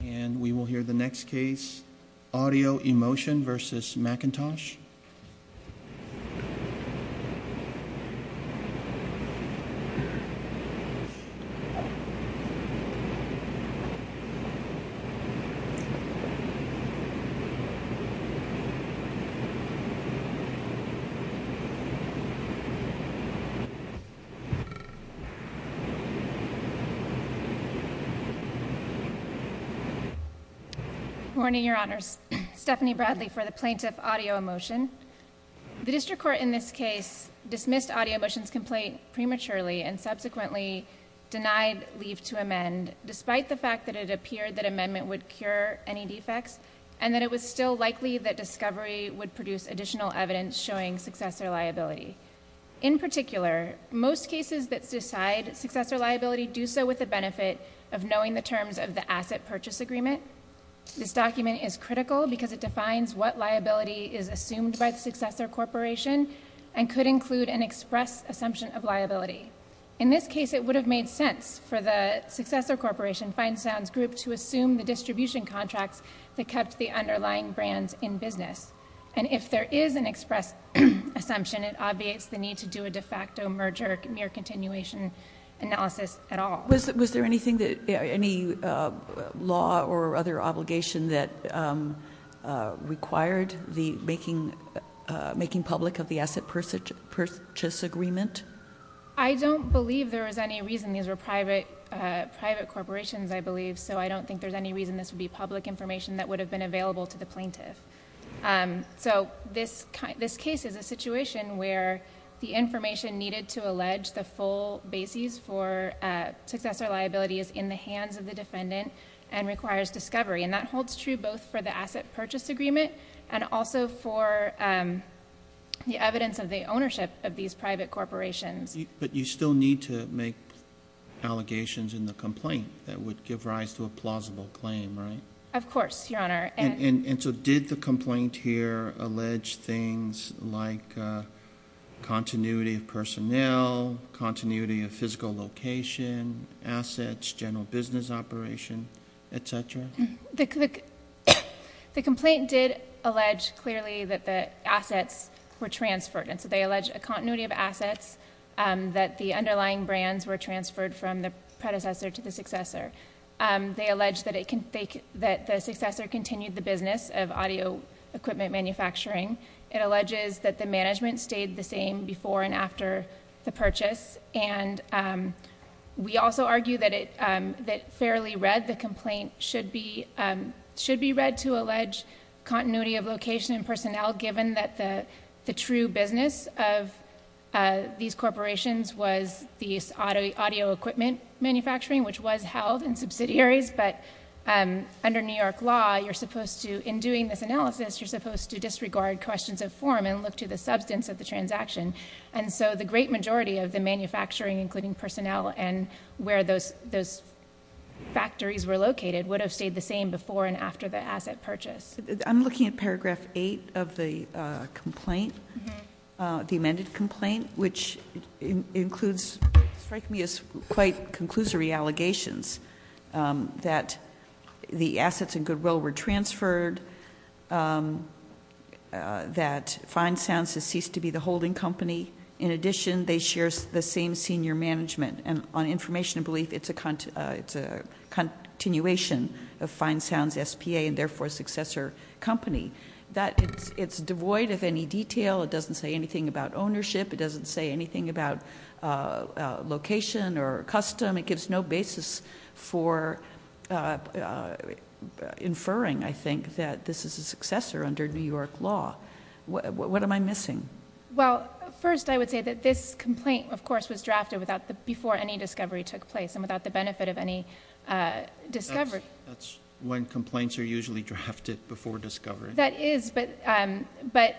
And we will hear the next case, Audio Emotion v. McIntosh. Good morning, Your Honors. Stephanie Bradley for the plaintiff, Audio Emotion. The district court in this case dismissed Audio Emotion's complaint prematurely and subsequently denied leave to amend, despite the fact that it appeared that amendment would cure any defects and that it was still likely that discovery would produce additional evidence showing successor liability. In particular, most cases that decide successor liability do so with the benefit of knowing the terms of the asset purchase agreement. This document is critical because it defines what liability is assumed by the successor corporation and could include an express assumption of liability. In this case, it would have made sense for the successor corporation, Feinstein's Group, to assume the distribution contracts that kept the underlying brands in business. And if there is an express assumption, it obviates the need to do a de facto merger mere continuation analysis at all. Was there anything, any law or other obligation that required the making public of the asset purchase agreement? I don't believe there was any reason. These were private corporations, I believe, so I don't think there's any reason this would be public information that would have been available to the plaintiff. This case is a situation where the information needed to allege the full basis for successor liability is in the hands of the defendant and requires discovery. That holds true both for the asset purchase agreement and also for the evidence of the ownership of these private corporations. But you still need to make allegations in the complaint that would give rise to a And so did the complaint here allege things like continuity of personnel, continuity of physical location, assets, general business operation, etc.? The complaint did allege clearly that the assets were transferred. And so they allege a continuity of assets that the underlying brands were transferred from the predecessor to the successor. They allege that the successor continued the business of audio equipment manufacturing. It alleges that the management stayed the same before and after the purchase. And we also argue that it fairly read. The complaint should be read to allege continuity of location and personnel given that the true business of these And so the great majority of the manufacturing including personnel and where those factories were located would have stayed the same before and after the asset purchase. I'm looking at paragraph 8 of the complaint, the amended complaint, which includes, strike me as quite conclusory allegations, that the assets and goodwill were transferred, that Fine Sounds has ceased to be the holding company. In addition, they share the same senior management. And on information and belief, it's a continuation of Fine Sounds S.P.A. and therefore successor company. It's devoid of any detail. It doesn't say anything about ownership. It doesn't say anything about location or custom. It gives no basis for inferring, I think, that this is a successor under New York law. What am I missing? Well, first I would say that this complaint, of course, was drafted before any discovery took place and without the benefit of any discovery. That's when complaints are usually drafted before discovery. That is, but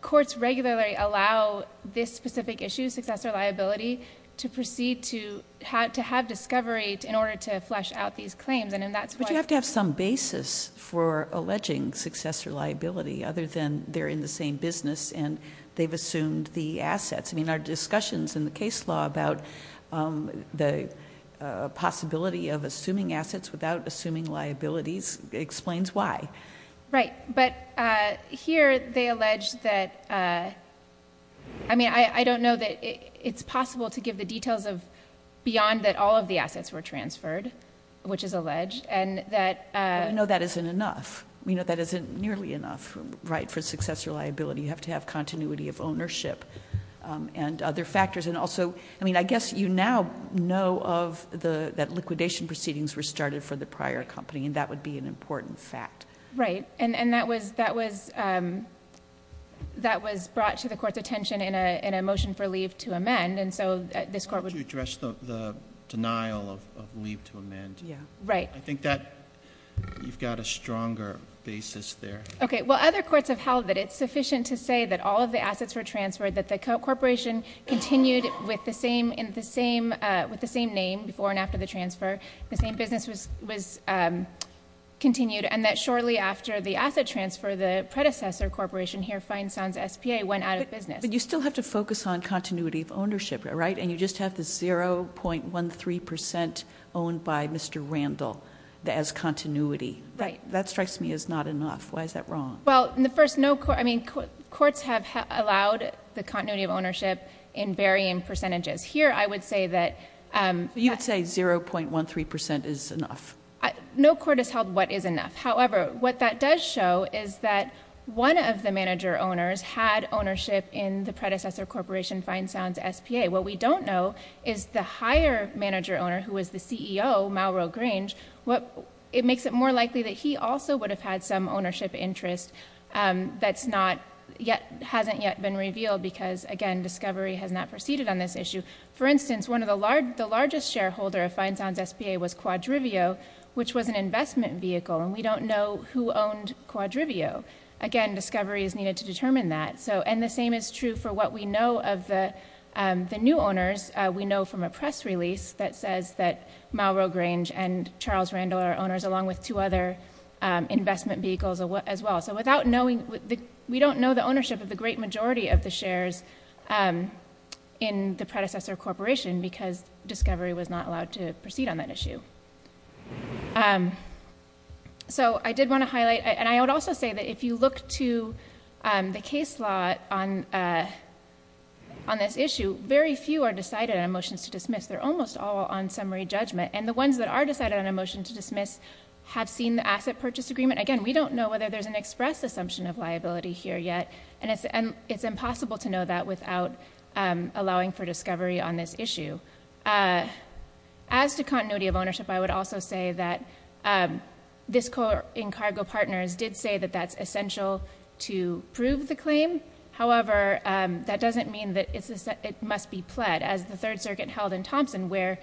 courts regularly allow this specific issue, successor liability, to proceed to have discovery in order to flesh out these claims. But you have to have some basis for alleging successor liability other than they're in the same business and they've assumed the assets. I mean, our discussions in the case law about the possibility of assuming assets without assuming liabilities explains why. Right. But here they allege that... I mean, I don't know that it's possible to give the details beyond that all of the assets were transferred, which is alleged, and that... I know that isn't enough. We know that isn't nearly enough, right, for successor liability. You have to have continuity of ownership and other factors. And also, I mean, I guess you now know that liquidation proceedings were started for the prior company, and that would be an important fact. Right. And that was brought to the court's attention in a motion for leave to amend, and so this court would... I want to address the denial of leave to amend. Yeah. Right. I think that you've got a stronger basis there. Okay. Well, other courts have held that it's sufficient to say that all of the assets were transferred, that the corporation continued with the same name before and after the transfer, the same business was continued, and that shortly after the asset transfer, the predecessor corporation here, Feinstein's SPA, went out of business. But you still have to focus on continuity of ownership, right? And you just have the 0.13 percent owned by Mr. Randall as continuity. Right. That strikes me as not enough. Why is that wrong? Well, in the first... I mean, courts have allowed the continuity of ownership in varying percentages. Here, I would say that... You would say 0.13 percent is enough. No court has held what is enough. However, what that does show is that one of the manager owners had ownership in the predecessor corporation, Feinstein's SPA. What we don't know is the higher manager owner, who was the CEO, Mauro Grange, it makes it more likely that he also would have had some ownership interest that hasn't yet been revealed because, again, discovery has not proceeded on this issue. For instance, one of the largest shareholder of Feinstein's SPA was Quadrivio, which was an investment vehicle, and we don't know who owned Quadrivio. Again, discovery is needed to determine that. And the same is true for what we know of the new owners. We know from a press release that says that Mauro Grange and Charles Randall are owners along with two other investment vehicles as well. So we don't know the ownership of the great majority of the shares in the predecessor corporation because discovery was not allowed to proceed on that issue. So I did want to highlight... And I would also say that if you look to the case law on this issue, very few are decided on a motion to dismiss. They're almost all on summary judgment. And the ones that are decided on a motion to dismiss have seen the asset purchase agreement. Again, we don't know whether there's an express assumption of liability here yet, and it's impossible to know that without allowing for discovery on this issue. As to continuity of ownership, I would also say that this court in Cargo Partners did say that that's essential to prove the claim. However, that doesn't mean that it must be pled as the Third Circuit held in Thompson where,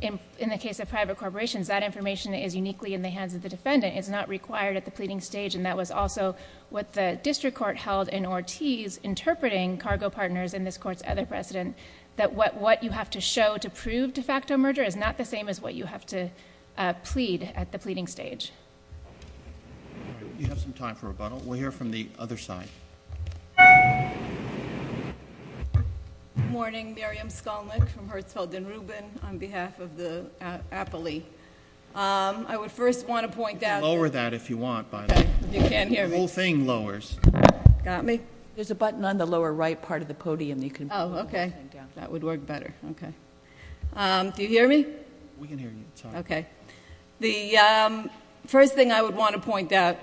in the case of private corporations, that information is uniquely in the hands of the defendant. It's not required at the pleading stage. And that was also what the district court held in Ortiz, interpreting Cargo Partners and this court's other precedent, that what you have to show to prove de facto merger is not the same as what you have to plead at the pleading stage. All right. We have some time for rebuttal. We'll hear from the other side. Good morning. Miriam Skolnick from Herzfeld & Rubin on behalf of the Appley. I would first want to point out— You can lower that if you want, by the way. You can't hear me? The whole thing lowers. Got me? There's a button on the lower right part of the podium you can— Oh, okay. That would work better. Okay. Do you hear me? We can hear you. Okay. The first thing I would want to point out,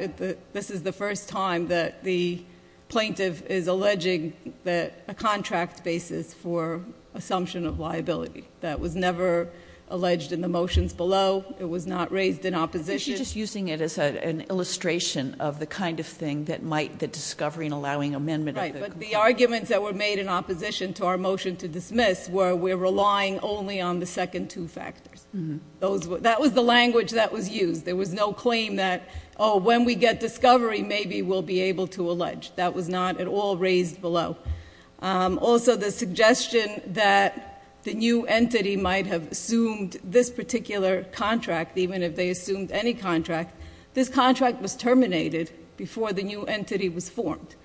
this is the first time that the plaintiff is alleging a contract basis for assumption of liability. That was never alleged in the motions below. It was not raised in opposition. You're just using it as an illustration of the kind of thing that might—the discovery and allowing amendment of the contract. Right, but the arguments that were made in opposition to our motion to dismiss were we're relying only on the second two factors. That was the language that was used. There was no claim that, oh, when we get discovery, maybe we'll be able to allege. That was not at all raised below. Also, the suggestion that the new entity might have assumed this particular contract, even if they assumed any contract, this contract was terminated before the new entity was formed.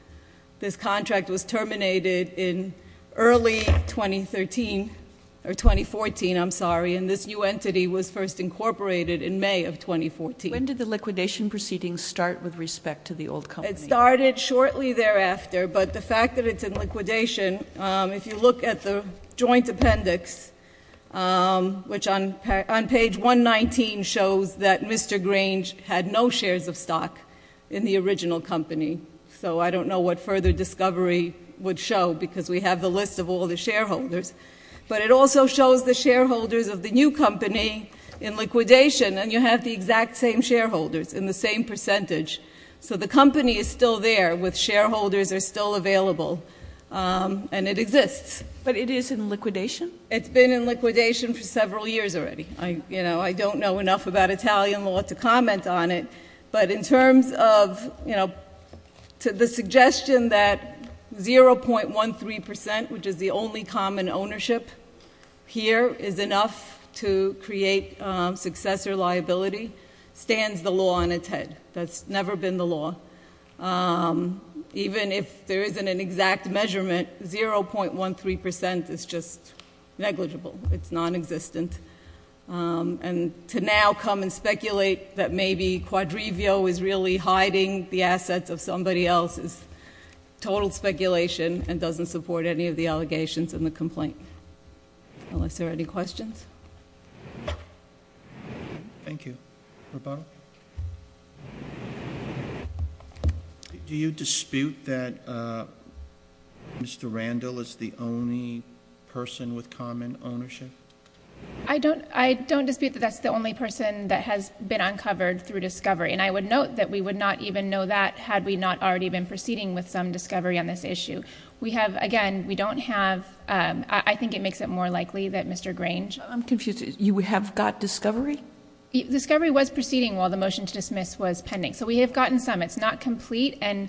This contract was terminated in early 2013—or 2014, I'm sorry, and this new entity was first incorporated in May of 2014. When did the liquidation proceedings start with respect to the old company? It started shortly thereafter, but the fact that it's in liquidation, if you look at the joint appendix, which on page 119 shows that Mr. Grange had no shares of stock in the original company, so I don't know what further discovery would show because we have the list of all the shareholders, but it also shows the shareholders of the new company in liquidation, and you have the exact same shareholders in the same percentage. So the company is still there with shareholders are still available, and it exists. But it is in liquidation? It's been in liquidation for several years already. I don't know enough about Italian law to comment on it, but in terms of the suggestion that 0.13 percent, which is the only common ownership here, is enough to create successor liability, stands the law on its head. That's never been the law. Even if there isn't an exact measurement, 0.13 percent is just negligible. It's nonexistent. And to now come and speculate that maybe Quadrivio is really hiding the assets of somebody else is total speculation and doesn't support any of the allegations in the complaint, unless there are any questions. Thank you. Robana? Do you dispute that Mr. Randall is the only person with common ownership? I don't dispute that that's the only person that has been uncovered through discovery, and I would note that we would not even know that had we not already been proceeding with some discovery on this issue. We have, again, we don't have, I think it makes it more likely that Mr. Grange I'm confused. You have got discovery? Discovery was proceeding while the motion to dismiss was pending, so we have gotten some. It's not complete, and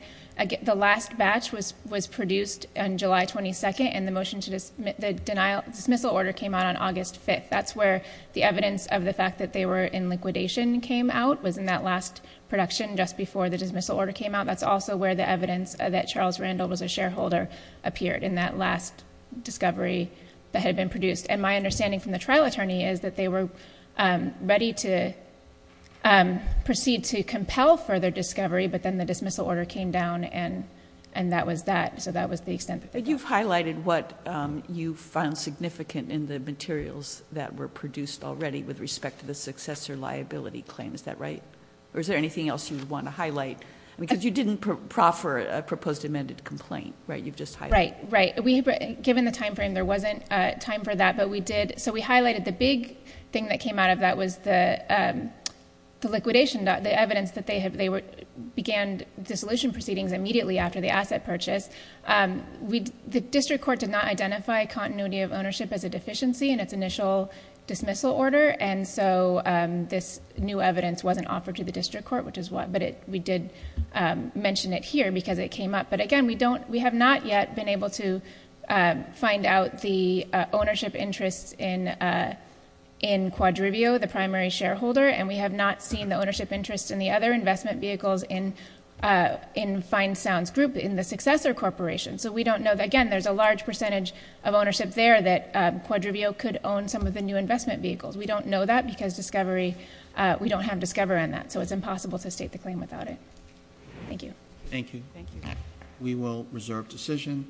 the last batch was produced on July 22nd, and the dismissal order came out on August 5th. That's where the evidence of the fact that they were in liquidation came out, was in that last production just before the dismissal order came out. That's also where the evidence that Charles Randall was a shareholder appeared, in that last discovery that had been produced. And my understanding from the trial attorney is that they were ready to proceed to compel further discovery, but then the dismissal order came down, and that was that. So that was the extent of it. You've highlighted what you found significant in the materials that were produced already with respect to the successor liability claim. Is that right? Or is there anything else you want to highlight? Because you didn't proffer a proposed amended complaint, right? You've just highlighted... Right. Right. Given the timeframe, there wasn't time for that, but we did... So we highlighted the big thing that came out of that was the liquidation, the evidence that they began dissolution proceedings immediately after the asset purchase. The district court did not identify continuity of ownership as a deficiency in its initial dismissal order, and so this new evidence wasn't offered to the district court, which is why... But we did mention it here, because it came up. But again, we have not yet been able to find out the ownership interests in Quadrivio, the primary shareholder, and we have not seen the ownership interests in the other investment vehicles in Fine Sounds Group, in the successor corporation. So we don't know... Again, there's a large percentage of ownership there that Quadrivio could own some of the new investment vehicles. We don't know that, because Discovery... we don't have Discover in that, so it's impossible to state the claim without it. Thank you. Thank you. Thank you. We will reserve decision.